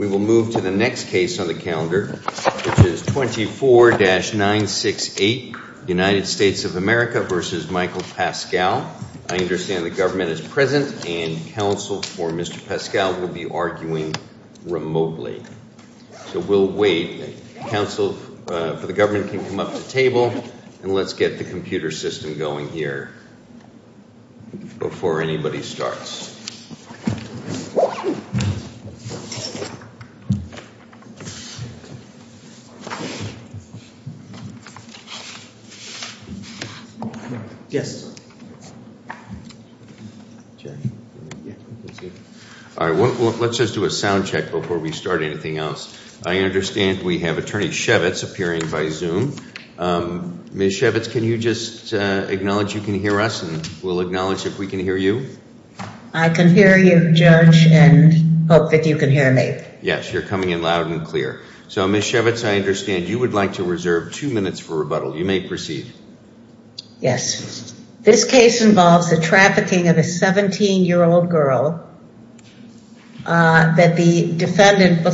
We will move to the next case on the calendar, which is 24-968 United States of America v. Michael Paschal. I understand the government is present, and counsel for Mr. Paschal will be arguing remotely. So we'll wait. Counsel for the government can come up to the table, and let's get the computer system going here before anybody starts. Let's just do a sound check before we start anything else. I understand we have Attorney Shevitz appearing by Zoom. Ms. Shevitz, can you just acknowledge you can hear us, and we'll acknowledge if we can hear you. I can hear you, Judge, and hope that you can hear me. Yes, you're coming in loud and clear. So Ms. Shevitz, I understand you would like to reserve two minutes for rebuttal. You may proceed. Yes. This case involves the trafficking of a 17-year-old girl that the defendant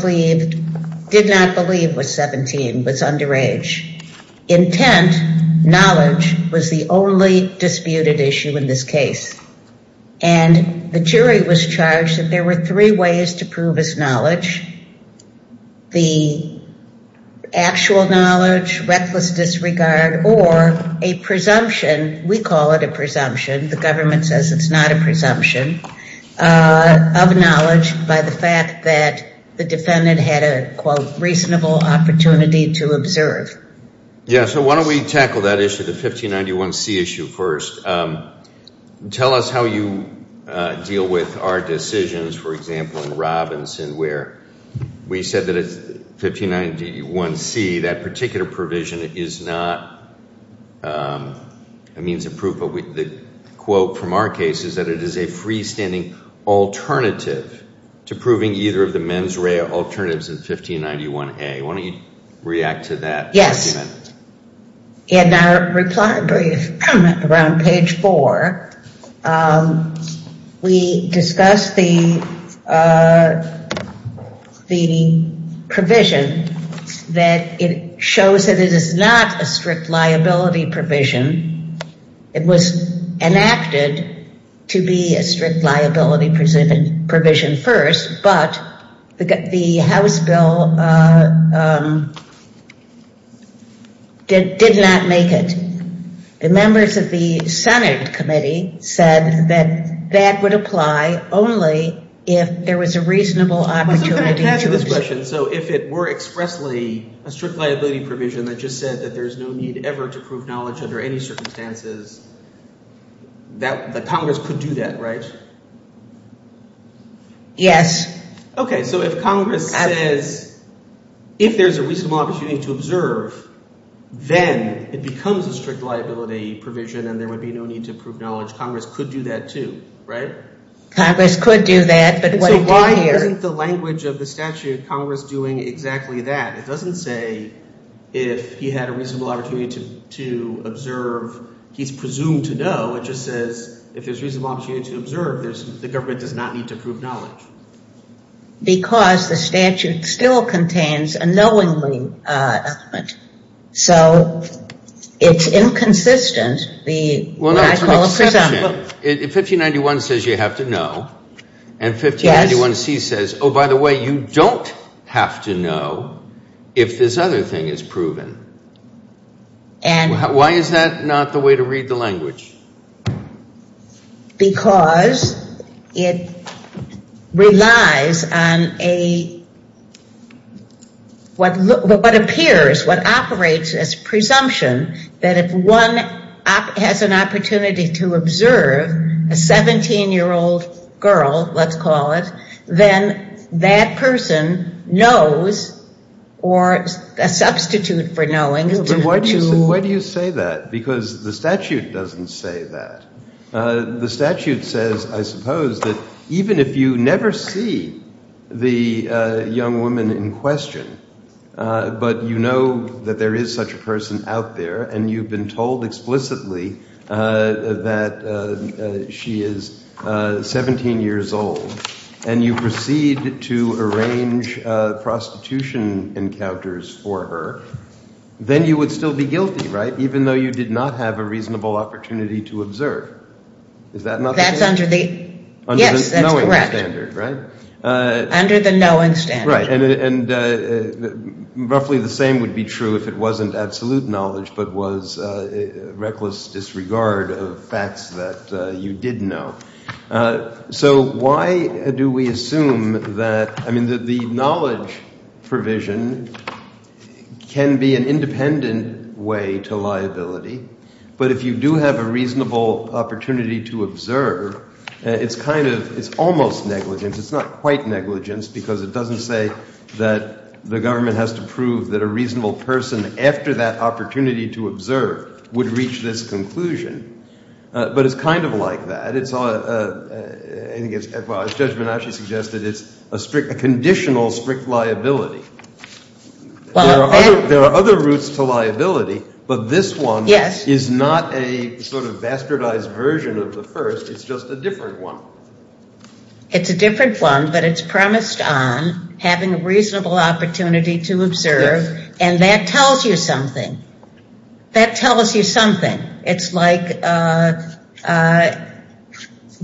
did not believe was underage. Intent, knowledge, was the only disputed issue in this case. And the jury was charged that there were three ways to prove his knowledge. The actual knowledge, reckless disregard, or a presumption. We call it a presumption. The government says it's not a presumption of knowledge by the fact that the defendant had a, quote, reasonable opportunity to observe. Yeah, so why don't we tackle that issue, the 1591C issue first. Tell us how you deal with our decisions, for example, in Robinson, where we said that it's 1591C, that particular provision is not a means of proof. The quote from our case is that it is a freestanding alternative to proving either of the men's array of alternatives in 1591A. Why don't you react to that? Yes. In our reply brief, around page four, we discussed the provision that it shows that it is not a strict liability provision. It was enacted to be a strict liability provision first, but the House bill did not make it. The members of the Senate committee said that that would apply only if there was a reasonable opportunity to observe. I was going to add to this question. So if it were expressly a strict liability provision that just said that there's no need ever to prove knowledge under any circumstances, that Congress could do that, right? Yes. Okay. So if Congress says, if there's a reasonable opportunity to observe, then it becomes a strict liability provision and there would be no need to prove knowledge. Congress could do that too, right? Congress could do that, but wouldn't do it here. And so why isn't the language of the statute of Congress doing exactly that? It doesn't say if he had a reasonable opportunity to observe, he's presumed to know. It just says if there's a reasonable opportunity to observe, the government does not need to prove knowledge. Because the statute still contains a knowingly element. So it's inconsistent. Well, no, it's an exception. 1591 says you have to know. And 1591C says, oh, by the way, you don't have to know if this other thing is proven. Why is that not the way to read the language? Because it relies on what appears, what operates as presumption that if one has an opportunity to observe a 17-year-old girl, let's call it, then that person knows or a substitute for knowing. But why do you say that? Because the statute doesn't say that. The statute says, I suppose, that even if you never see the young woman in question, but you know that there is such a person out there, and you've been told explicitly that she is 17 years old, and you proceed to arrange prostitution encounters for her, then you would still be guilty, right? Even though you did not have a reasonable opportunity to observe. Is that not the case? Yes, that's correct. Under the knowing standard. Right. And roughly the same would be true if it wasn't absolute knowledge, but was reckless disregard of facts that you did know. So why do we assume that, I mean, the knowledge provision can be an independent way to liability. But if you do have a reasonable opportunity to observe, it's kind of, it's almost negligence. It's not quite negligence, because it doesn't say that the government has to prove that a reasonable person, after that opportunity to observe, would reach this conclusion. But it's kind of like that. It's a, I think it's, as Judge Banasch suggested, it's a strict, a conditional strict liability. There are other routes to liability, but this one is not a sort of bastardized version of the first, it's just a different one. It's a different one, but it's promised on having a reasonable opportunity to observe, and that tells you something. That tells you something. It's like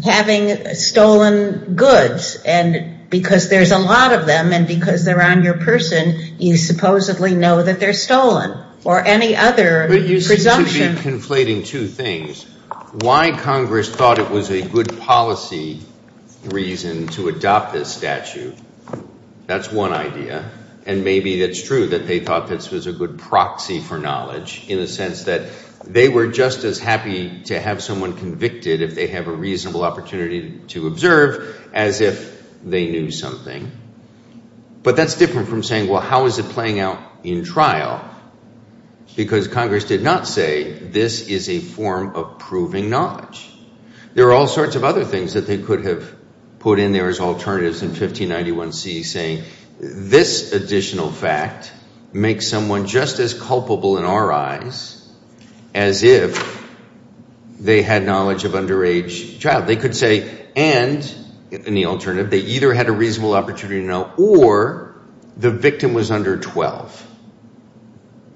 having stolen goods, and because there's a lot of them, and because they're on your person, you supposedly know that they're stolen, or any other presumption. I'm re-conflating two things. Why Congress thought it was a good policy reason to adopt this statute, that's one idea, and maybe it's true that they thought this was a good proxy for knowledge, in the sense that they were just as happy to have someone convicted if they have a reasonable opportunity to observe, as if they knew something. But that's different from saying, well, how is it playing out in trial? Because Congress did not say, this is a form of proving knowledge. There are all sorts of other things that they could have put in there as alternatives in 1591C saying, this additional fact makes someone just as culpable in our eyes, as if they had knowledge of underage child. They could say, and, in the alternative, they either had a reasonable opportunity to know, or the victim was under 12.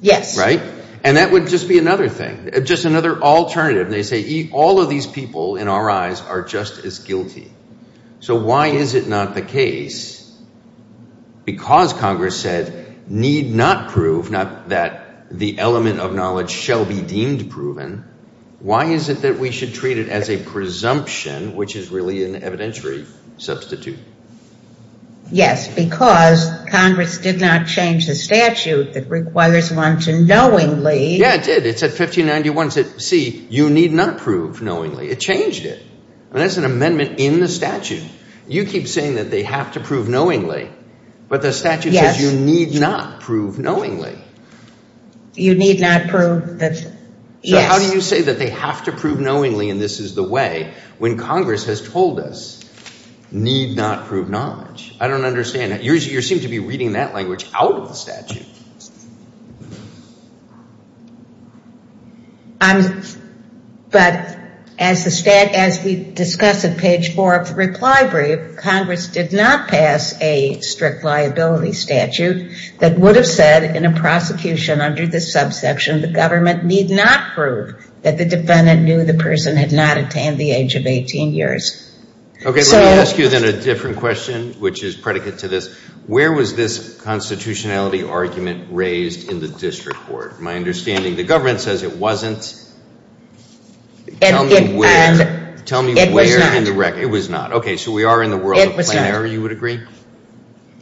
Yes. Right? And that would just be another thing, just another alternative. They say, all of these people in our eyes are just as guilty. So why is it not the case, because Congress said, need not prove, not that the element of knowledge shall be deemed proven, why is it that we should treat it as a presumption, which is really an evidentiary substitute? Yes, because Congress did not change the statute that requires one to knowingly. Yeah, it did. It said, 1591C, you need not prove knowingly. It changed it. And that's an amendment in the statute. You keep saying that they have to prove knowingly, but the statute says you need not prove knowingly. You need not prove that, yes. So how do you say that they have to prove knowingly, and this is the way, when Congress has told us, need not prove knowledge? I don't understand that. You seem to be reading that language out of the statute. But as we discuss in page 4 of the reply brief, Congress did not pass a strict liability statute that would have said, in a prosecution under this subsection, the government need not prove that the defendant knew the person had not attained the age of 18 years. Okay, let me ask you then a different question, which is predicate to this. Where was this constitutionality argument raised in the district court? My understanding, the government says it wasn't. Tell me where in the record. It was not. Okay, so we are in the world of plain error, you would agree?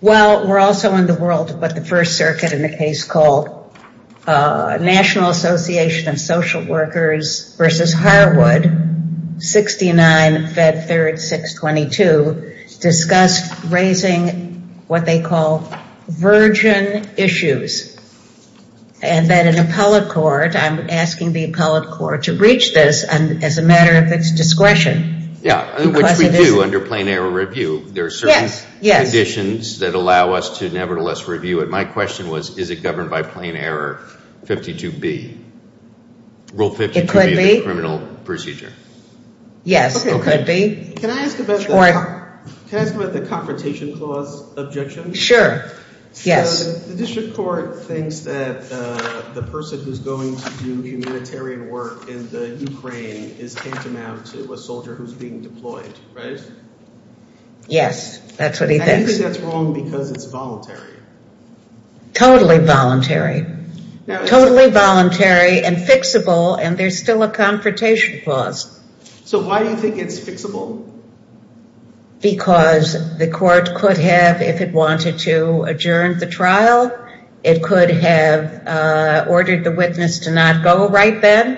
Well, we're also in the world of what the First Circuit in a case called National Association of Social Workers versus Harwood, 69 Fed 3rd 622, discussed raising what they call virgin issues. And then an appellate court, I'm asking the appellate court to breach this as a matter of its discretion. Yeah, which we do under plain error review. There are certain conditions that allow us to nevertheless review it. My question was, is it governed by plain error 52B? Rule 52B of the criminal procedure? Yes, it could be. Can I ask about the confrontation clause objection? Sure, yes. So the district court thinks that the person who's going to do humanitarian work in the Ukraine is tantamount to a soldier who's being deployed, right? Yes, that's what he thinks. And he thinks that's wrong because it's voluntary. Totally voluntary. Totally voluntary and fixable and there's still a confrontation clause. So why do you think it's fixable? Because the court could have, if it wanted to adjourn the trial, it could have ordered the witness to not go right then,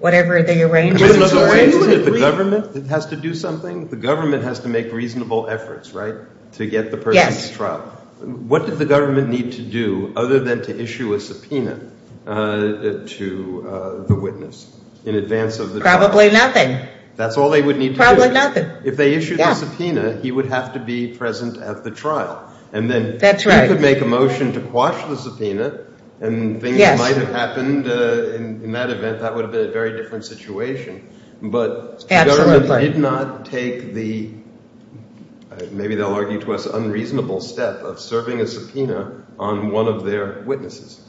whatever the arrangement. In other words, if the government has to do something, the government has to make reasonable efforts, right, to get the person to trial. What did the government need to do other than to issue a subpoena to the witness in advance of the trial? Probably nothing. That's all they would need to do. Probably nothing. If they issued a subpoena, he would have to be present at the trial. And then he could make a motion to quash the subpoena and things might have happened in that event, that would have been a very different situation. But the government did not take the, maybe they'll argue to us, unreasonable step of serving a subpoena on one of their witnesses.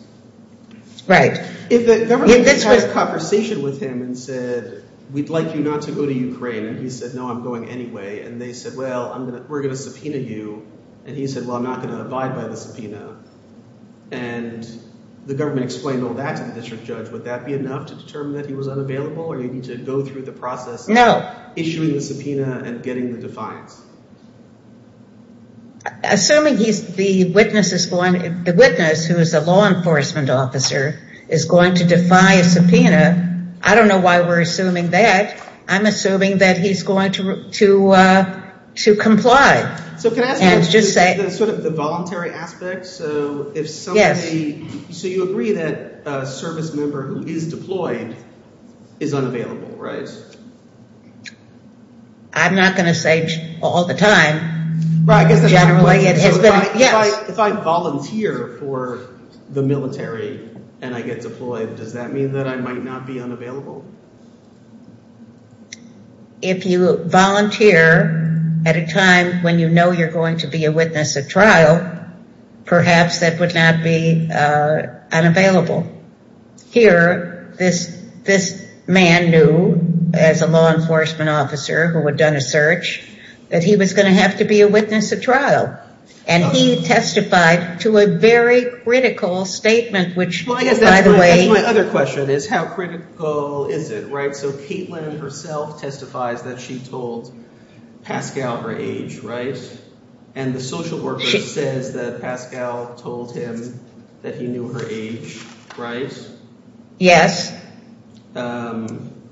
Right. If the government had a conversation with him and said, we'd like you not to go to Ukraine. And he said, no, I'm going anyway. And they said, well, we're going to subpoena you. And he said, well, I'm not going to abide by the subpoena. And the government explained all that to the district judge. Would that be enough to determine that he was unavailable or do you need to go through the process of issuing the subpoena and getting the defiance? Assuming he's, the witness is going, the witness, who is a law enforcement officer, is going to defy a subpoena. I don't know why we're assuming that. I'm assuming that he's going to comply. So can I ask you about sort of the voluntary aspect? So if somebody, so you agree that a service member who is deployed is unavailable, right? I'm not going to say all the time, but generally it has been, yes. If I volunteer for the military and I get deployed, does that mean that I might not be unavailable? If you volunteer at a time when you know you're going to be a witness at trial, perhaps that would not be unavailable. Here, this man knew as a law enforcement officer who had done a search, that he was going to have to be a witness at trial. And he testified to a very critical statement, which, by the way... So Caitlin herself testifies that she told Pascal her age, right? And the social worker says that Pascal told him that he knew her age, right? Yes. And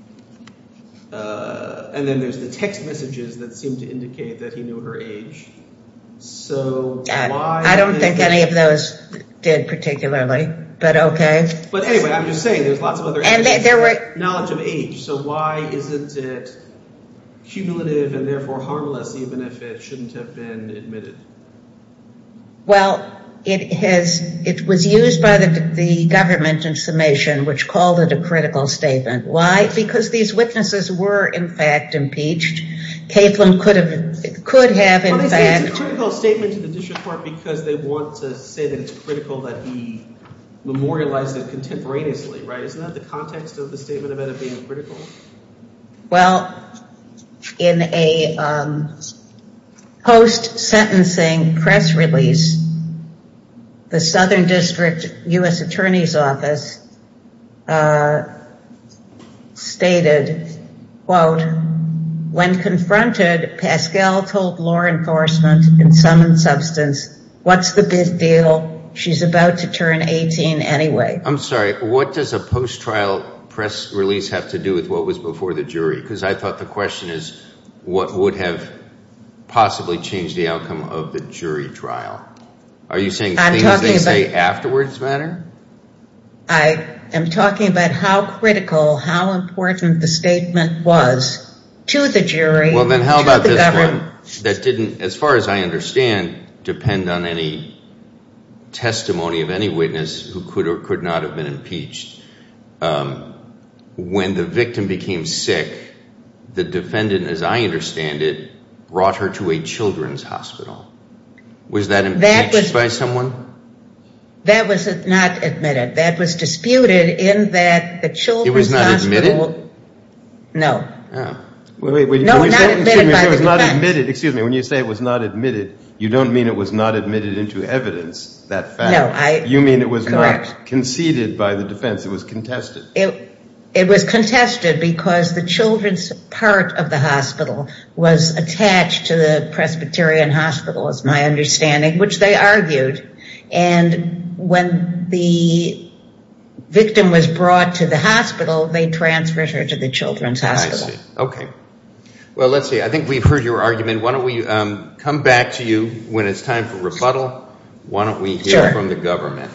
then there's the text messages that seem to indicate that he knew her age. I don't think any of those did particularly, but okay. But anyway, I'm just saying there's lots of other evidence, knowledge of age. So why isn't it cumulative and therefore harmless, even if it shouldn't have been admitted? Well, it was used by the government in summation, which called it a critical statement. Why? Because these witnesses were, in fact, impeached. Caitlin could have, in fact... Well, they say it's a critical statement to the district court because they want to say that it's critical that he memorialized it contemporaneously, right? Isn't that the context of the statement about it being critical? Well, in a post-sentencing press release, the Southern District U.S. Attorney's Office stated, quote, I'm sorry. What does a post-trial press release have to do with what was before the jury? Because I thought the question is, what would have possibly changed the outcome of the jury trial? Are you saying things they say afterwards matter? I am talking about how critical, how important the statement was to the jury, to the government. Well, then how about this one? That didn't, as far as I understand, depend on any testimony of any witness who could or could not have been impeached. When the victim became sick, the defendant, as I understand it, brought her to a children's hospital. Was that impeached by someone? That was not admitted. That was disputed in that the children's hospital... It was not admitted? No. Oh. No, not admitted by the defense. Excuse me, when you say it was not admitted, you don't mean it was not admitted into evidence, that fact. No, I... You mean it was not conceded by the defense. It was contested. It was contested because the children's part of the hospital was attached to the Presbyterian Hospital, as my understanding, which they argued. And when the victim was brought to the hospital, they transferred her to the children's hospital. I see. Okay. Well, let's see. I think we've heard your argument. Why don't we come back to you when it's time for rebuttal? Sure. Why don't we hear from the government?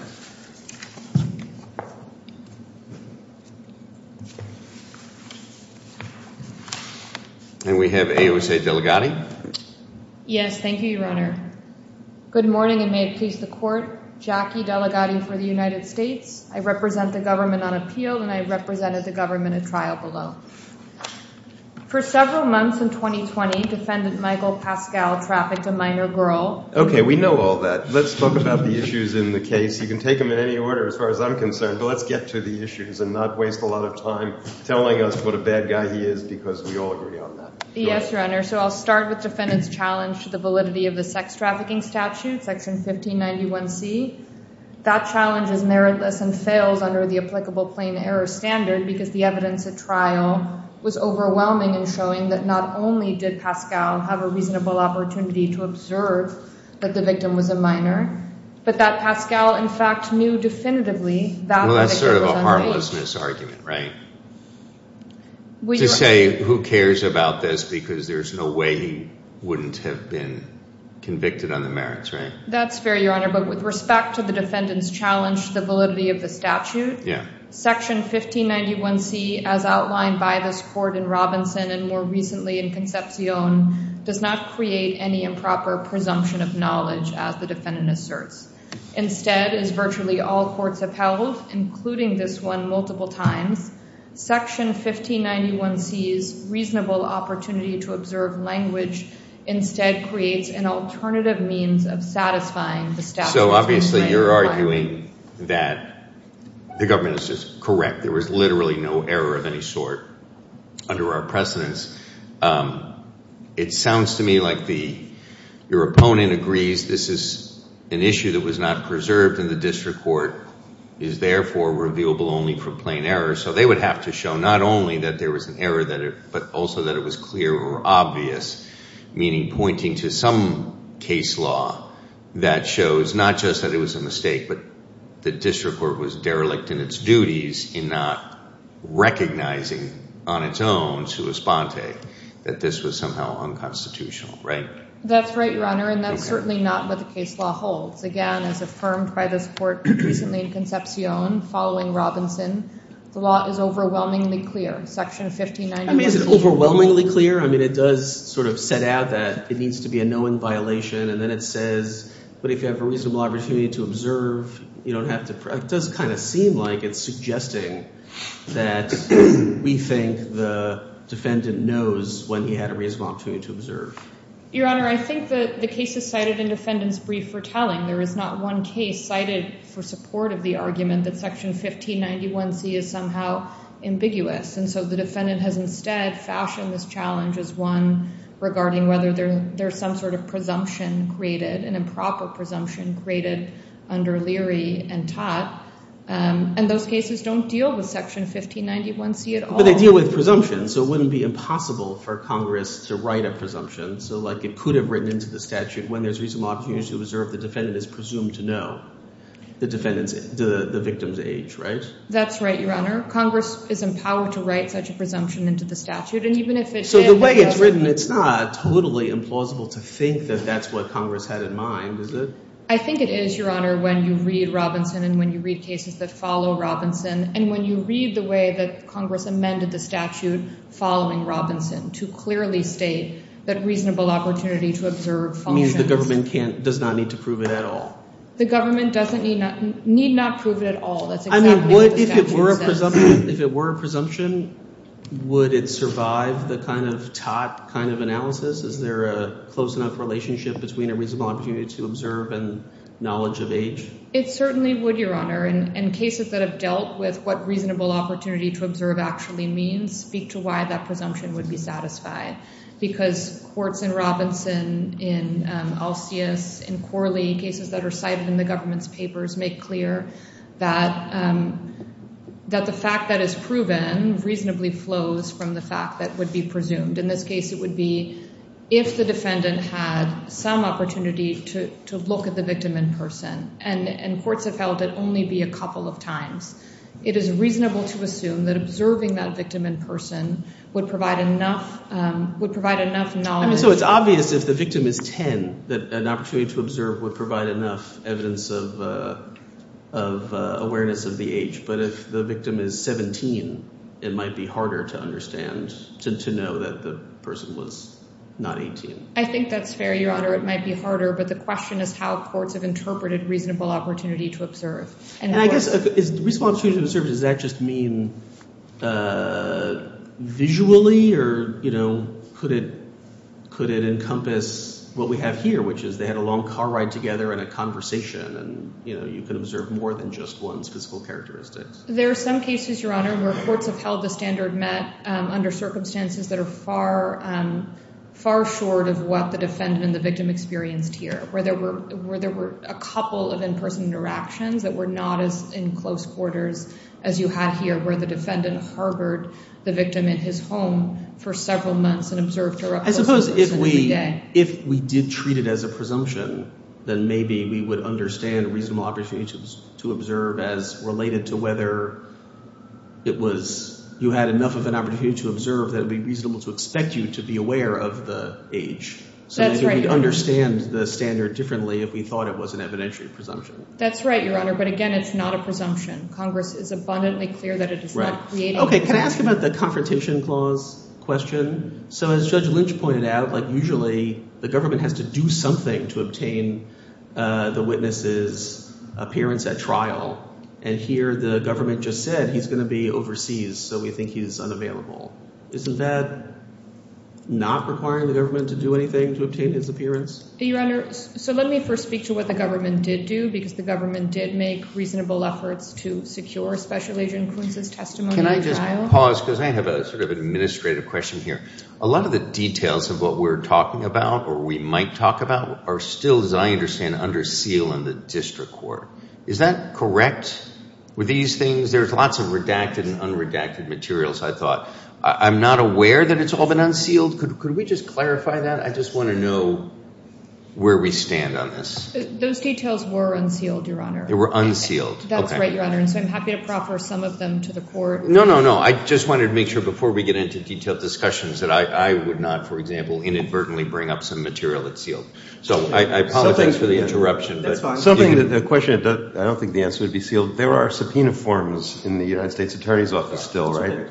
And we have AOSA Delegati. Yes, thank you, Your Honor. Good morning, and may it please the Court. Jackie Delegati for the United States. I represent the government on appeal, and I represented the government at trial below. For several months in 2020, Defendant Michael Pascal trafficked a minor girl. Okay, we know all that. Let's talk about the issues in the case. You can take them in any order as far as I'm concerned, but let's get to the issues and not waste a lot of time telling us what a bad guy he is because we all agree on that. Yes, Your Honor. So I'll start with Defendant's challenge to the validity of the sex trafficking statute, section 1591C. That challenge is meritless and fails under the applicable plain error standard because the evidence at trial was overwhelming in showing that not only did Pascal have a reasonable opportunity to observe that the victim was a minor, but that Pascal, in fact, knew definitively that the victim was a minor. Well, that's sort of a harmlessness argument, right? To say, who cares about this because there's no way he wouldn't have been convicted on the merits, right? That's fair, Your Honor. But with respect to the Defendant's challenge to the validity of the statute, section 1591C, as outlined by this court in Robinson and more recently in Concepcion, does not create any improper presumption of knowledge as the Defendant asserts. Instead, as virtually all courts have held, including this one multiple times, section 1591C's opportunity to observe language instead creates an alternative means of satisfying the statute. So, obviously, you're arguing that the government is just correct. There was literally no error of any sort under our precedence. It sounds to me like your opponent agrees this is an issue that was not preserved and the district court is, therefore, revealable only from plain error. So they would have to show not only that there was an error, but also that it was clear or obvious, meaning pointing to some case law that shows not just that it was a mistake, but the district court was derelict in its duties in not recognizing on its own to Esponte that this was somehow unconstitutional, right? That's right, Your Honor, and that's certainly not what the case law holds. Again, as affirmed by this court recently in Concepcion following Robinson, the law is overwhelmingly clear. Section 1591... I mean, is it overwhelmingly clear? I mean, it does sort of set out that it needs to be a known violation and then it says, but if you have a reasonable opportunity to observe, you don't have to... It does kind of seem like it's suggesting that we think the defendant knows when he had a reasonable opportunity to observe. Your Honor, I think that the case is cited in defendant's brief for telling. There is not one case cited for support of the 1591C is somehow ambiguous, and so the defendant has instead fashioned this challenge as one regarding whether there's some sort of presumption created, an improper presumption created under Leary and Tott, and those cases don't deal with Section 1591C at all. But they deal with presumption, so it wouldn't be impossible for Congress to write a presumption so, like, it could have written into the statute when there's reasonable opportunity to observe, the defendant is presumed to know the victim's age, right? That's right, Your Honor. Congress is empowered to write such a presumption into the statute, and even if it did... So the way it's written, it's not totally implausible to think that that's what Congress had in mind, is it? I think it is, Your Honor, when you read Robinson and when you read cases that follow Robinson, and when you read the way that Congress amended the statute following Robinson to clearly state that reasonable opportunity to observe functions... Means the government does not need to prove it at all. The government need not prove it at all, that's exactly what the statute says. If it were a presumption, would it survive the kind of Tott kind of analysis? Is there a close enough relationship between a reasonable opportunity to observe and knowledge of age? It certainly would, Your Honor, and cases that have dealt with what reasonable opportunity to observe actually means speak to why that presumption would be satisfied. Because courts in Robinson, in Alcius, in Corley, cases that are cited in the government's papers make clear that the fact that is proven reasonably flows from the fact that would be presumed. In this case it would be if the defendant had some opportunity to look at the victim in person, and courts have held it only be a couple of times. It is reasonable to assume that observing that victim in person would provide enough knowledge... So it's obvious if the victim is 10 that an opportunity to observe would provide enough evidence of awareness of the age, but if the victim is 17, it might be harder to understand, to know that the person was not 18. I think that's fair, Your Honor. It might be harder, but the question is how courts have interpreted reasonable opportunity to observe. And I guess, is reasonable opportunity to observe, does that just mean visually? Or, you know, could it encompass what we have here, which is they had a long car ride together and a conversation and, you know, you could observe more than just one's physical characteristics. There are some cases, Your Honor, where courts have held the standard met under circumstances that are far short of what the defendant and the victim experienced here, where there were a couple of in-person interactions that were not as in close quarters as you had here, where the defendant harbored the victim in his home for several months and observed her up close and personally. I suppose if we did treat it as a presumption, then maybe we would understand reasonable opportunity to observe as related to whether it was you had enough of an opportunity to observe that it would be reasonable to expect you to be aware of the age. That's right, Your Honor. So maybe we'd understand the standard differently if we thought it was an evidentiary presumption. That's right, Your Honor, but again, it's not a presumption. Congress is abundantly clear that it's not creating... Okay, can I ask about the Confrontation Clause question? So as Judge Lynch pointed out, usually the government has to do something to obtain the witness' appearance at trial, and here the government just said he's going to be overseas, so we think he's unavailable. Isn't that not requiring the government to do anything to obtain his appearance? Your Honor, so let me first speak to what the government did do, because the government did make reasonable efforts to secure Special Agent Kuntz's testimony at trial. Can I just pause, because I have a sort of administrative question here. A lot of the details of what we're talking about, or we might talk about, are still, as I understand, under seal in the district court. Is that correct with these things? There's lots of redacted and unredacted materials, I thought. I'm not aware that it's all been unsealed. Could we just clarify that? I just want to know where we stand on this. Those details were unsealed, Your Honor. They were unsealed. That's right, Your Honor, and so I'm happy to proffer some of them to the court. No, no, no. I just wanted to make sure before we get into detailed discussions that I would not, for example, inadvertently bring up some material that's sealed. I apologize for the interruption. The question, I don't think the answer would be sealed. There are subpoena forms in the United States Attorney's Office still, right?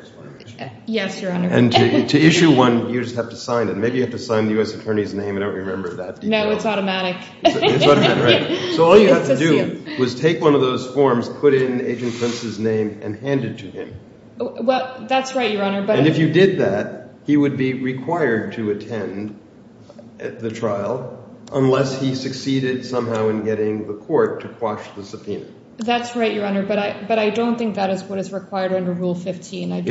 Yes, Your Honor. And to issue one, you just have to sign it. Maybe you have to sign the U.S. Attorney's name. I don't remember that. No, it's automatic. So all you have to do was take one of those forms, put in Agent Pence's name, and hand it to him. Well, that's right, Your Honor. And if you did that, he would be required to attend the trial unless he succeeded somehow in getting the court to quash the subpoena. That's right, Your Honor, but I don't think that is what is required under Rule 15. It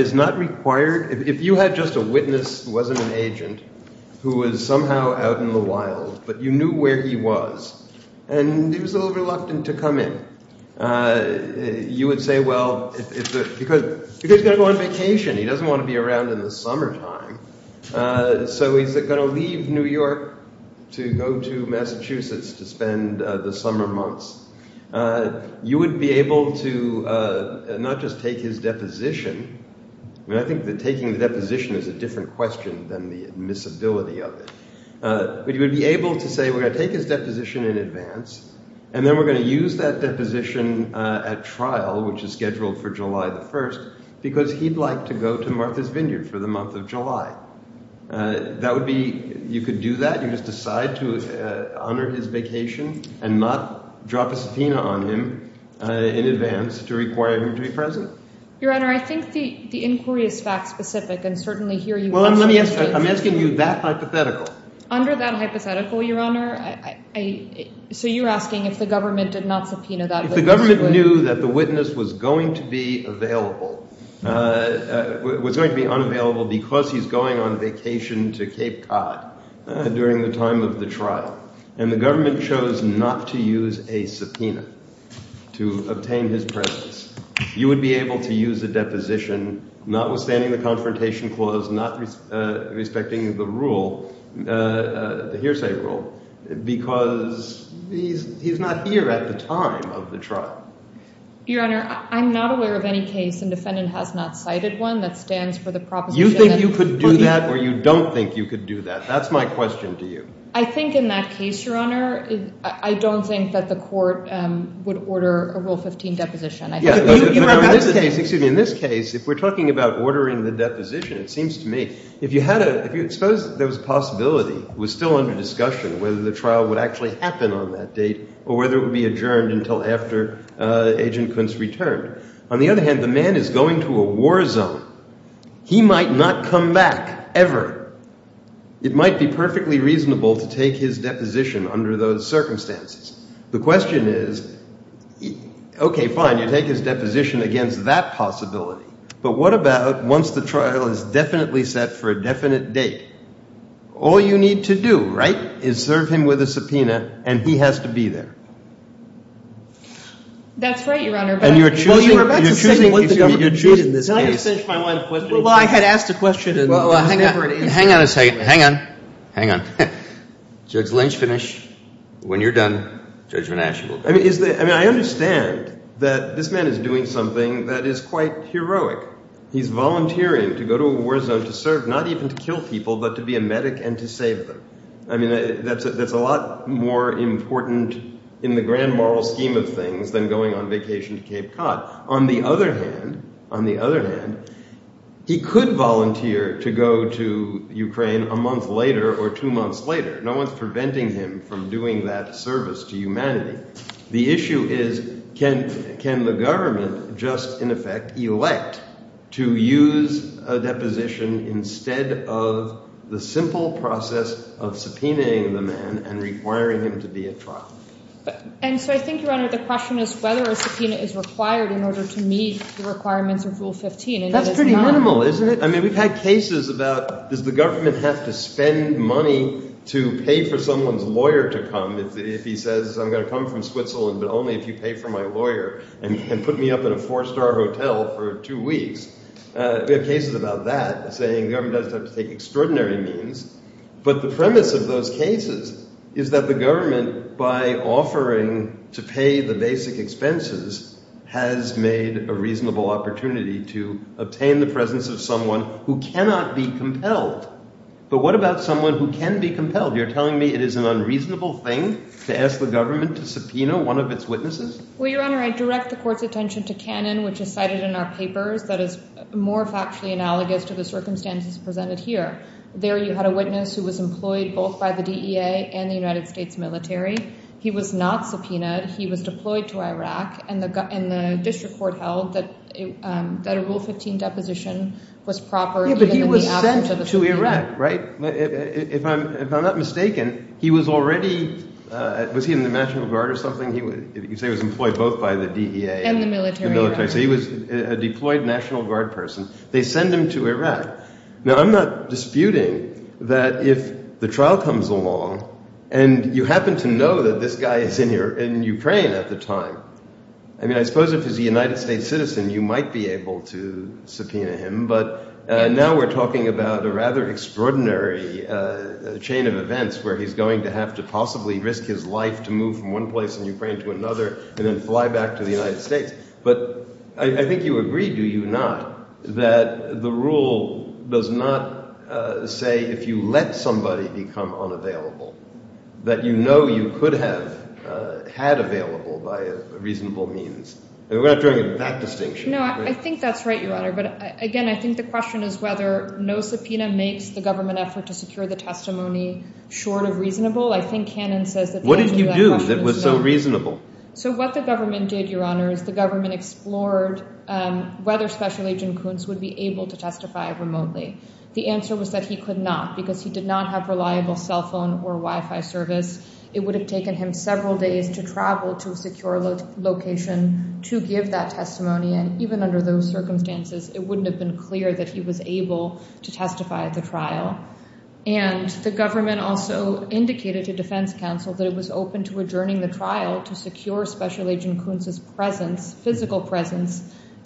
is not required. If you had just a witness who wasn't an agent who was somehow out in the wild, but you knew where he was, and he was a little reluctant to come in, you would say, well, because he's going to go on vacation. He doesn't want to be around in the summertime. So he's going to leave New York to go to Massachusetts to spend the summer months. You would be able to not just take his deposition, and I think that taking the deposition is a different question than the admissibility of it. But you would be able to say, we're going to take his deposition in advance, and then we're going to use that deposition at trial, which is scheduled for July the 1st, because he'd like to go to Martha's Vineyard for the month of July. That would be, you could do that. You just decide to honor his vacation and not drop a subpoena on him in advance to require him to be present. Your Honor, I think the inquiry is fact specific, and certainly here you absolutely should... Well, I'm asking you that hypothetical. Under that hypothetical, Your Honor, so you're asking if the government did not subpoena that witness... If the government knew that the witness was going to be available, was going to be unavailable because he's going on vacation to Cape Cod during the time of the trial, and the government chose not to use a subpoena to obtain his presence, you would be able to use a deposition notwithstanding the confrontation clause, not respecting the rule, the hearsay rule, because he's not here at the time of the trial. Your Honor, I'm not aware of any case and defendant has not cited one that stands for the proposition... You think you could do that or you don't think you could do that? That's my question to you. I think in that case, Your Honor, I don't think that the court would order a Rule 15 deposition. In this case, if we're talking about ordering the deposition, it seems to me, if you had a... Suppose there was a possibility, it was still under discussion whether the trial would actually happen on that date or whether it would be adjourned until after Agent Kuntz returned. On the other hand, the man is going to a war zone. He might not come back ever. It might be perfectly reasonable to take his deposition under those circumstances. The question is, okay, fine, you take his deposition against that possibility, but what about once the trial is definitely set for a definite date? All you need to do, right, is serve him with a subpoena and he has to be there. That's right, Your Honor. And you're choosing... You're choosing... Well, I had asked a question... Hang on a second. Hang on. Hang on. Judge Lynch, finish. When you're done, Judge Van Aschen will... I understand that this man is doing something that is quite heroic. He's volunteering to go to a war zone to serve, not even to kill people, but to be a medic and to save them. I mean, that's a lot more important in the grand moral scheme of things than going on vacation to Cape Cod. On the other hand, on the other hand, he could volunteer to go to Ukraine a month later or two months later. No one's preventing him from doing that service to humanity. The issue is can the government just, in effect, elect to use a deposition instead of the simple process of subpoenaing the man and requiring him to be at trial? And so I think, Your Honor, the question is whether a subpoena is required in order to meet the requirements of Rule 15, and it is not. That's pretty minimal, isn't it? I mean, we've had cases about does the government have to spend money to pay for someone's lawyer to come if he says, I'm going to come from Switzerland, but only if you pay for my lawyer and put me up in a four-star hotel for two weeks. We have cases about that saying the government does have to take extraordinary means, but the premise of those cases is that the government, by offering to pay the basic expenses, has made a reasonable opportunity to obtain the presence of someone who cannot be compelled. But what about someone who can be compelled? You're telling me it is an unreasonable thing to ask the government to subpoena one of its witnesses? Well, Your Honor, I direct the Court's attention to Cannon, which is cited in our papers, that is more factually analogous to the circumstances presented here. There you had a witness who was employed both by the DEA and the United States military. He was not subpoenaed. He was deployed to Iraq, and the District Court held that a Rule 15 deposition was proper Yeah, but he was sent to Iraq, right? If I'm not mistaken, he was already, was he in the National Guard or something? You say he was employed both by the DEA and the military. So he was a deployed National Guard person. They send him to Iraq. Now, I'm not disputing that if the trial comes along and you happen to know that this guy is in Ukraine at the time, I mean, I suppose if he's a United States citizen, you might be able to subpoena him, but now we're talking about a rather extraordinary chain of events where he's going to have to possibly risk his life to move from one place in Ukraine to another and then fly back to the United States. But I think you agree, do you not, that the rule does not say if you let somebody become unavailable that you know you could have had available by a reasonable means. We're not doing that distinction. No, I think that's right, Your Honor, but again, I think the question is whether no subpoena makes the government effort to secure the testimony short of reasonable. I think Cannon says What did you do that was so reasonable? So what the government did, Your Honor, is the government explored whether Special Agent Kuntz would be able to testify remotely. The answer was that he could not because he did not have reliable cell phone or Wi-Fi service. It would have taken him several days to travel to a secure location to give that testimony, and even under those circumstances it wouldn't have been clear that he was able to testify at the trial. And the government also indicated to defense counsel that it was open to adjourning the trial to secure Special Agent Kuntz's presence, physical presence,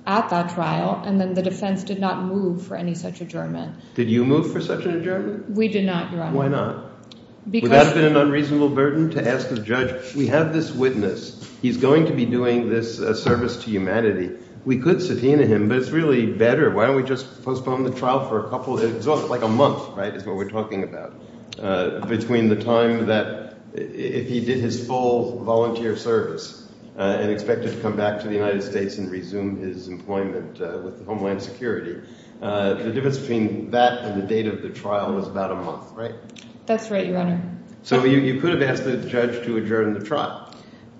at that trial, and then the defense did not move for any such adjournment. Did you move for such an adjournment? We did not, Your Honor. Why not? Because... Would that have been an unreasonable burden to ask the judge we have this witness, he's going to be doing this service to humanity, we could subpoena him, but it's really better, why don't we just postpone the trial for a couple, like a month, right, is what we're talking about, between the time that if he did his full volunteer service and expected to come back to the United States and resume his employment with Homeland Security. The difference between that and the date of the trial was about a month, right? That's right, Your Honor. So you could have asked the judge to adjourn the trial.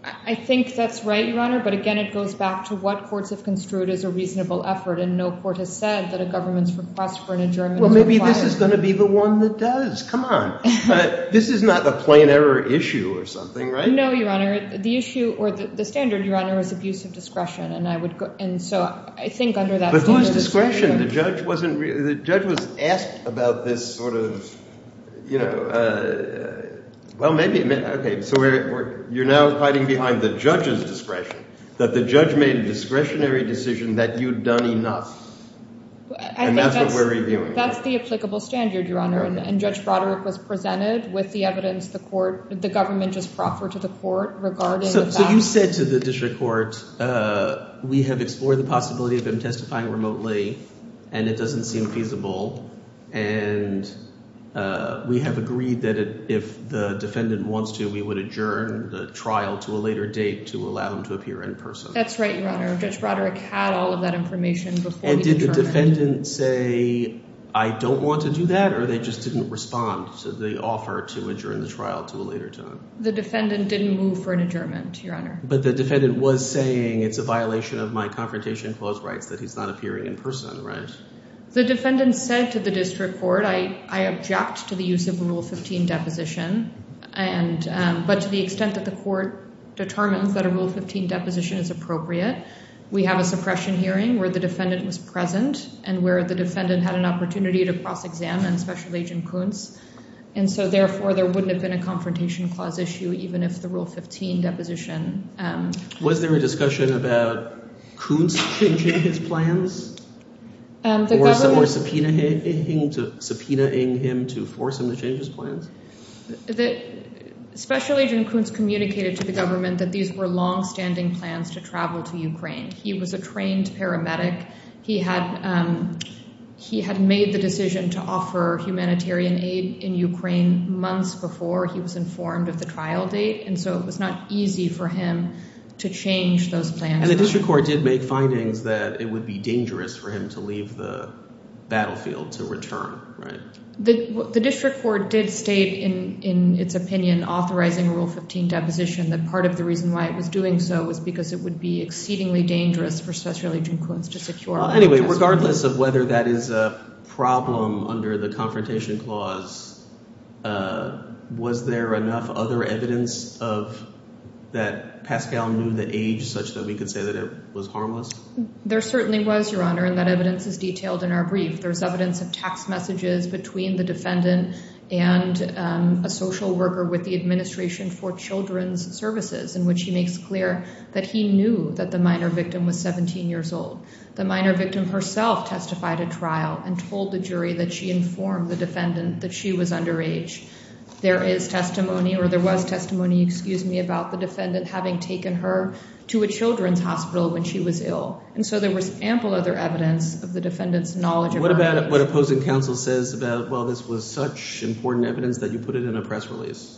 I think that's right, Your Honor, but again, it goes back to what courts have construed as a reasonable effort, and no court has said that a government's request for an adjournment... Well, maybe this is going to be the one that does, come on. This is not a plain error issue or something, right? No, Your Honor. The issue, or the standard, Your Honor, is abuse of discretion, and I would... And so, I think under that... But who has discretion? The judge wasn't... The judge was asked about this sort of... Well, maybe... Okay, so you're now hiding behind the judge's discretion that the judge made a discretionary decision that you'd done enough, and that's what we're reviewing. That's the applicable standard, Your Honor, and Judge Broderick was presented with the evidence the government just proffered to the court regarding... So you said to the district court, we have explored the possibility of him testifying remotely, and it doesn't seem feasible, and we have agreed that if the defendant wants to, we would adjourn the trial to a later date to allow him to appear in person. That's right, Your Honor. Judge Broderick had all of that information before the adjournment. And did the defendant say, I don't want to do that, or they just didn't respond to the offer to adjourn the trial to a later time? The defendant didn't move for an adjournment, Your Honor. But the defendant was saying, it's a violation of my confrontation clause rights that he's not appearing in person, right? The defendant said to the district court, I object to the use of a Rule 15 deposition, but to the extent that the court determines that a Rule 15 deposition is appropriate, we have a suppression hearing where the defendant was present, and where the defendant had an opportunity to cross-examine Special Agent Kuntz. And so, therefore, there wouldn't have been a confrontation clause issue, even if the Rule 15 deposition... Was there a discussion about Kuntz changing his plans? Or subpoenaing him to force him to change his plans? Special Agent Kuntz communicated to the government that these were long-standing plans to travel to Ukraine. He was a trained paramedic. He had made the decision to offer humanitarian aid in Ukraine months before he was informed of the trial date, and so it was not easy for him to change those plans. And the district court did make findings that it would be dangerous for him to leave the battlefield to return, right? The district court did state in its opinion, authorizing a Rule 15 deposition, that part of the reason why it was doing so was because it would be exceedingly dangerous for Special Agent Kuntz to secure... Anyway, regardless of whether that is a problem under the confrontation clause, was there enough other evidence of that Pascal knew the age such that we could say that it was harmless? There certainly was, Your Honor, and that evidence is detailed in our brief. There's evidence of text messages between the defendant and a social worker with the Administration for Children's Services, in which he makes clear that he knew that the minor victim was 17 years old. The minor victim herself testified at trial and told the jury that she informed the defendant that she was underage. There is testimony, or there was testimony, excuse me, about the defendant having taken her to a children's hospital when she was ill, and so there was ample other evidence of the defendant's knowledge of her age. What about what opposing counsel says about, well, this was such important evidence that you put it in a press release?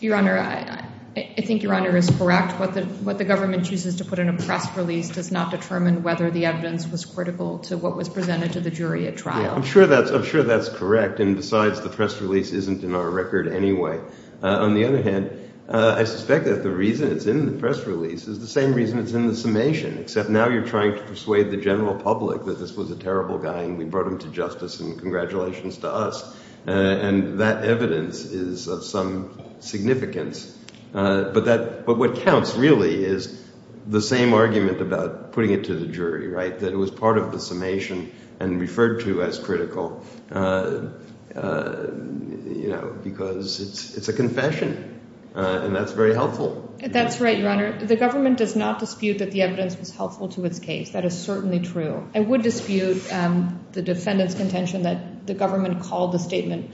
Your Honor, I think Your Honor is correct. What the government chooses to put in a press release does not determine whether the evidence was critical to what was presented to the jury at trial. I'm sure that's correct, and besides, the press release isn't in our record anyway. On the other hand, I suspect that the reason it's in the press release is the same reason it's in the summation, except now you're trying to persuade the general public that this was a terrible guy, and we brought him to justice, and congratulations to us. And that evidence is of some significance. But what counts, really, is the same argument about putting it to the jury, right, that it was part of the summation and referred to as critical, you know, because it's a confession, and that's very helpful. That's right, Your Honor. The government does not dispute that the evidence was helpful to its case. That is certainly true. I would dispute the defendant's contention that the government called the statement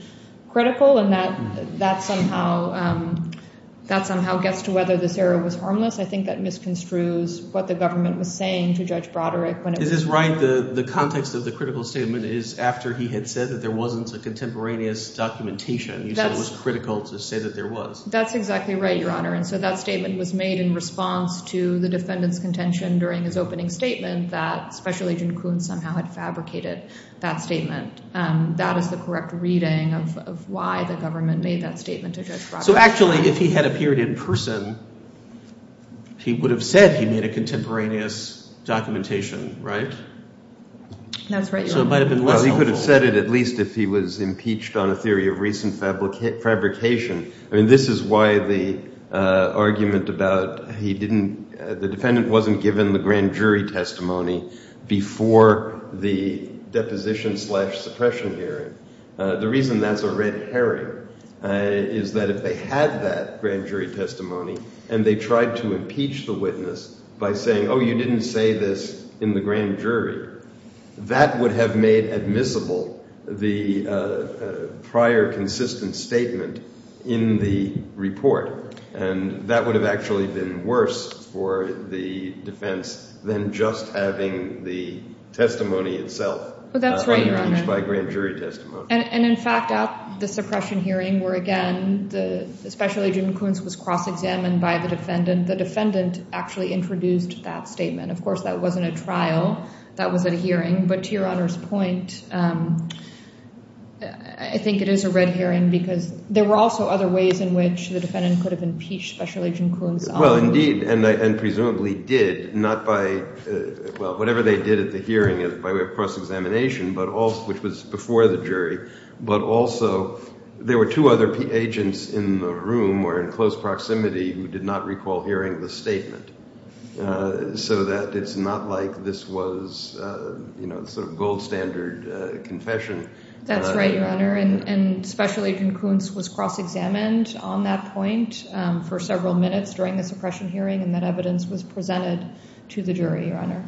critical, and that somehow gets to whether this error was harmless. I think that misconstrues what the government was saying to Judge Broderick. This is right. The context of the critical statement is after he had said that there wasn't a contemporaneous documentation. He said it was critical to say that there was. That's exactly right, Your Honor. And so that statement was made in response to the defendant's contention during his opening statement that Special Agent Kuhn somehow had fabricated that statement. That is the correct reading of why the government made that statement to Judge Broderick. So actually, if he had appeared in person, he would have said he made a contemporaneous documentation, right? That's right, Your Honor. Well, he could have said it at least if he was impeached on a theory of recent fabrication. I mean, this is why the argument about he didn't, the defendant wasn't given the grand jury testimony before the deposition slash suppression hearing. The reason that's a red herring is that if they had that grand jury testimony and they tried to impeach the witness by saying, oh, you didn't say this in the grand jury, that would have made admissible the prior consistent statement in the report. And that would have actually been worse for the defense than just having the testimony itself impeached by grand jury testimony. And in fact, at the suppression hearing where, again, the Special Agent Kuhn was cross-examined by the defendant, the defendant actually introduced that statement. Of course, that wasn't a trial. That was a hearing. But to Your Honor's point, I think it is a red herring because there were also other ways in which the defendant could have impeached Special Agent Kuhn's honor. Well, indeed, and presumably did, not by well, whatever they did at the hearing by way of cross-examination, but also which was before the jury, but also there were two other agents in the room or in close proximity who did not recall hearing the statement. So that it's not like this was sort of gold standard confession. That's right, Your Honor. And Special Agent Kuhn's was cross-examined on that point for several minutes during the suppression hearing and that evidence was presented to the jury, Your Honor.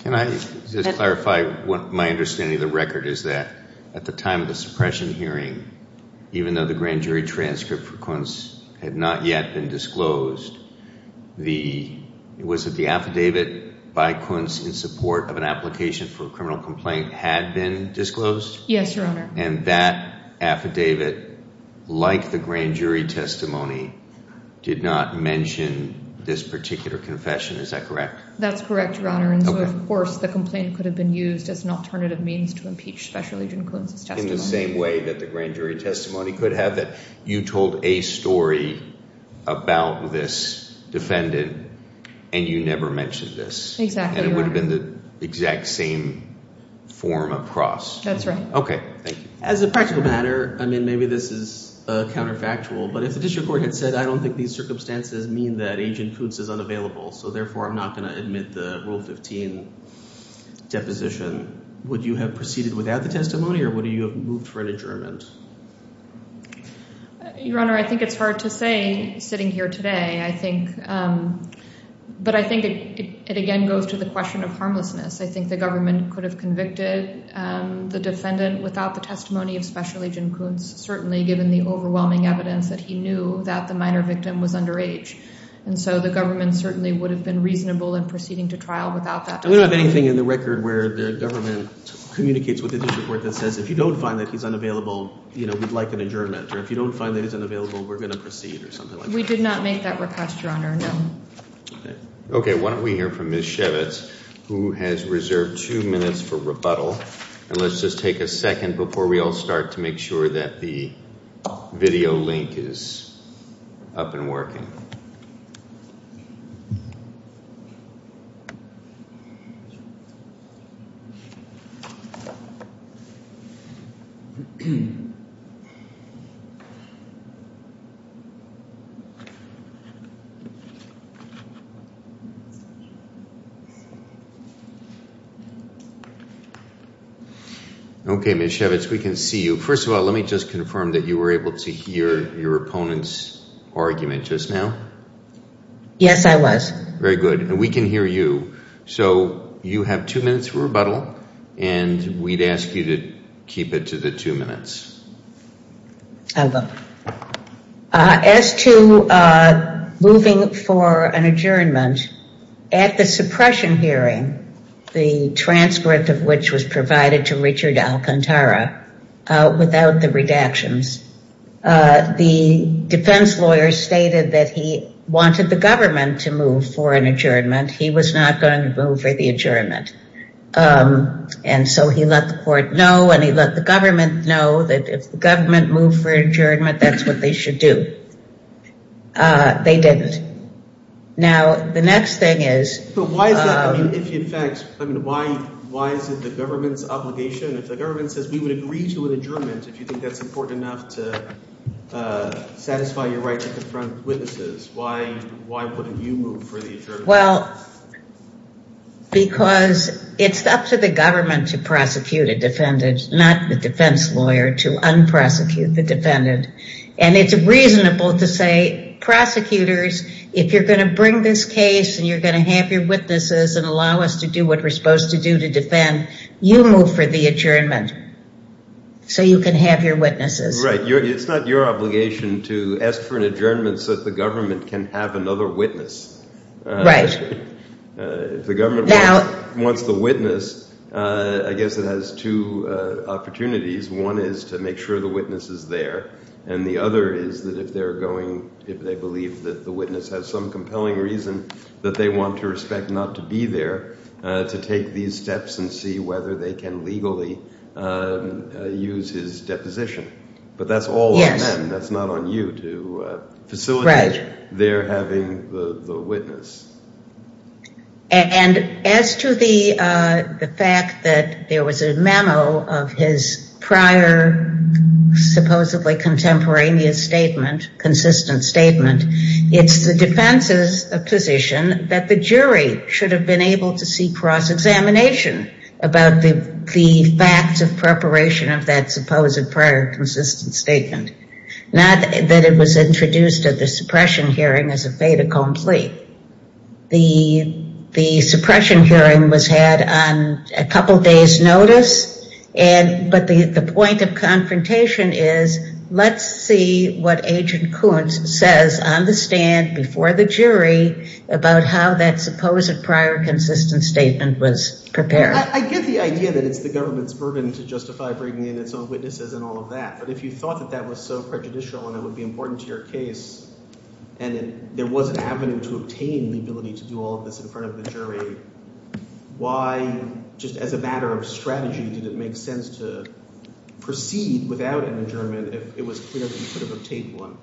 Can I just clarify what my understanding of the record is that at the time of the suppression hearing, even though the grand jury transcript for Kuhn's had not yet been disclosed, was it the affidavit by Kuhn's in support of an application for a criminal complaint had been disclosed? Yes, Your Honor. And that affidavit, like the grand jury testimony, did not mention this particular confession. Is that correct? That's correct, Your Honor. Of course, the complaint could have been used as an alternative means to impeach Special Agent Kuhn's testimony. In the same way that the grand jury testimony could have, that you told a story about this defendant and you never mentioned this. Exactly, Your Honor. And it would have been the exact same form of cross. That's right. Okay, thank you. As a practical matter, I mean, maybe this is counterfactual, but if the district court had said, I don't think these circumstances mean that Agent Kuhn's is unavailable, so therefore I'm not going to admit the Rule 15 deposition, would you have proceeded without the testimony or would you have moved for an adjournment? Your Honor, I think it's hard to say sitting here today. I think, but I think it again goes to the question of harmlessness. I think the government could have convicted the defendant without the testimony of Special Agent Kuhn's, certainly given the overwhelming evidence that he knew that the minor victim was underage. And so the government certainly would have been reasonable in proceeding to trial without that testimony. We don't have anything in the record where the government communicates with the district court that says, if you don't find that he's unavailable, you know, we'd like an adjournment. Or if you don't find that he's unavailable, we're going to proceed or something like that. We did not make that request, Your Honor, no. Okay, why don't we hear from Ms. Shevitz who has reserved two minutes for rebuttal. And let's just take a second before we all start to make sure that the video link is up and working. Okay. Okay, Ms. Shevitz, we can see you. First of all, let me just confirm that you were able to hear your opponent's argument just now? Yes, I was. Very good. And we can hear you. So you have two minutes for rebuttal, and we'd ask you to keep it to the two minutes. I will. As to moving for an adjournment, at the suppression hearing, the transcript of which was provided to Richard Alcantara, without the redactions, the defense lawyer stated that he wanted the government to move for an adjournment. He was not going to move for the adjournment. And so he let the court know, and he let the government know that if the government moved for an adjournment, that's what they should do. They didn't. Now, the next thing is... Why is it the government's obligation? If the government says, we would agree to an adjournment, if you think that's important enough to satisfy your right to confront witnesses, why wouldn't you move for the adjournment? Well, because it's up to the government to prosecute a defendant, not the defense lawyer to unprosecute the defendant. And it's reasonable to say, prosecutors, if you're going to bring this case and you're going to have your witnesses and allow us to do what we're supposed to do to defend, you move for the adjournment so you can have your witnesses. It's not your obligation to ask for an adjournment so that the government can have another witness. If the government wants the witness, I guess it has two opportunities. One is to make sure the witness is there, and the other is that if they're going, if they believe that the witness has some compelling reason that they want to respect not to be there, to take these steps and see whether they can legally use his deposition. But that's all on them. That's not on you to facilitate their having the witness. And as to the fact that there was a memo of his prior supposedly contemporaneous statement, consistent statement, it's the defense's position that the jury should have been able to see cross-examination about the facts of preparation of that supposed prior consistent statement. Not that it was introduced at the suppression hearing as a fait accompli. The suppression hearing was had on a couple days notice, but the point of confrontation is, let's see what Agent Kuntz says on the stand before the jury about how that supposed prior consistent statement was prepared. I get the idea that it's the government's burden to justify bringing in its own witnesses and all of that, but if you thought that that was so prejudicial and it would be important to your case and there was an avenue to obtain the ability to do all of this in front of the jury, why, just as a matter of strategy, did it make sense to proceed without an adjournment if it was clear that you could have obtained one?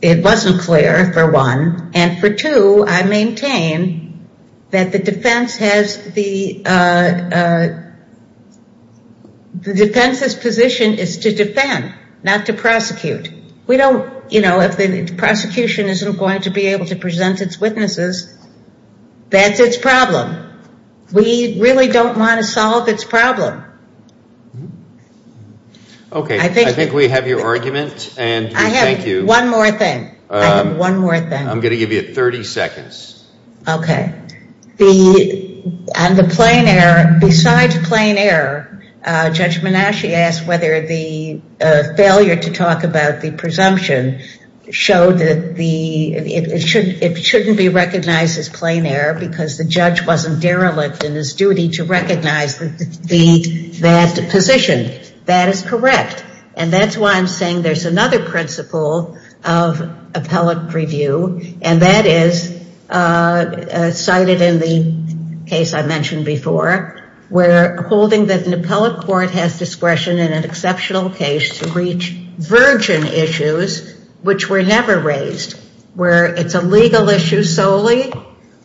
It wasn't clear, for one. And for two, I maintain that the defense has the defense's position is to defend not to prosecute. We don't, you know, if the prosecution isn't going to be able to present its witnesses, that's its problem. We really don't want to solve its problem. Okay, I think we have your argument and we thank you. I have one more thing. I have one more thing. I'm going to give you 30 seconds. Okay. And the plain error, besides plain error, Judge Menasche asked whether the failure to talk about the presumption showed that it shouldn't be recognized as plain error because the judge wasn't derelict in his duty to recognize that position. That is correct. And that's why I'm saying there's another principle of appellate review and that is cited in the case I mentioned before where holding that an appellate court has discretion in an exceptional case to reach virgin issues, which were never raised, where it's a legal issue solely,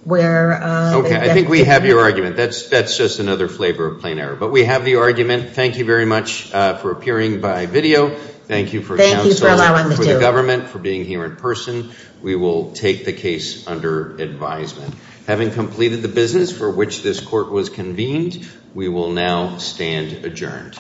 where Okay, I think we have your argument. That's just another flavor of plain error. But we have the argument. Thank you very much for appearing by video. Thank you for counseling for the government, for being here in person. We will take the case under advisement. Having completed the business for which this court was convened, we will now stand adjourned.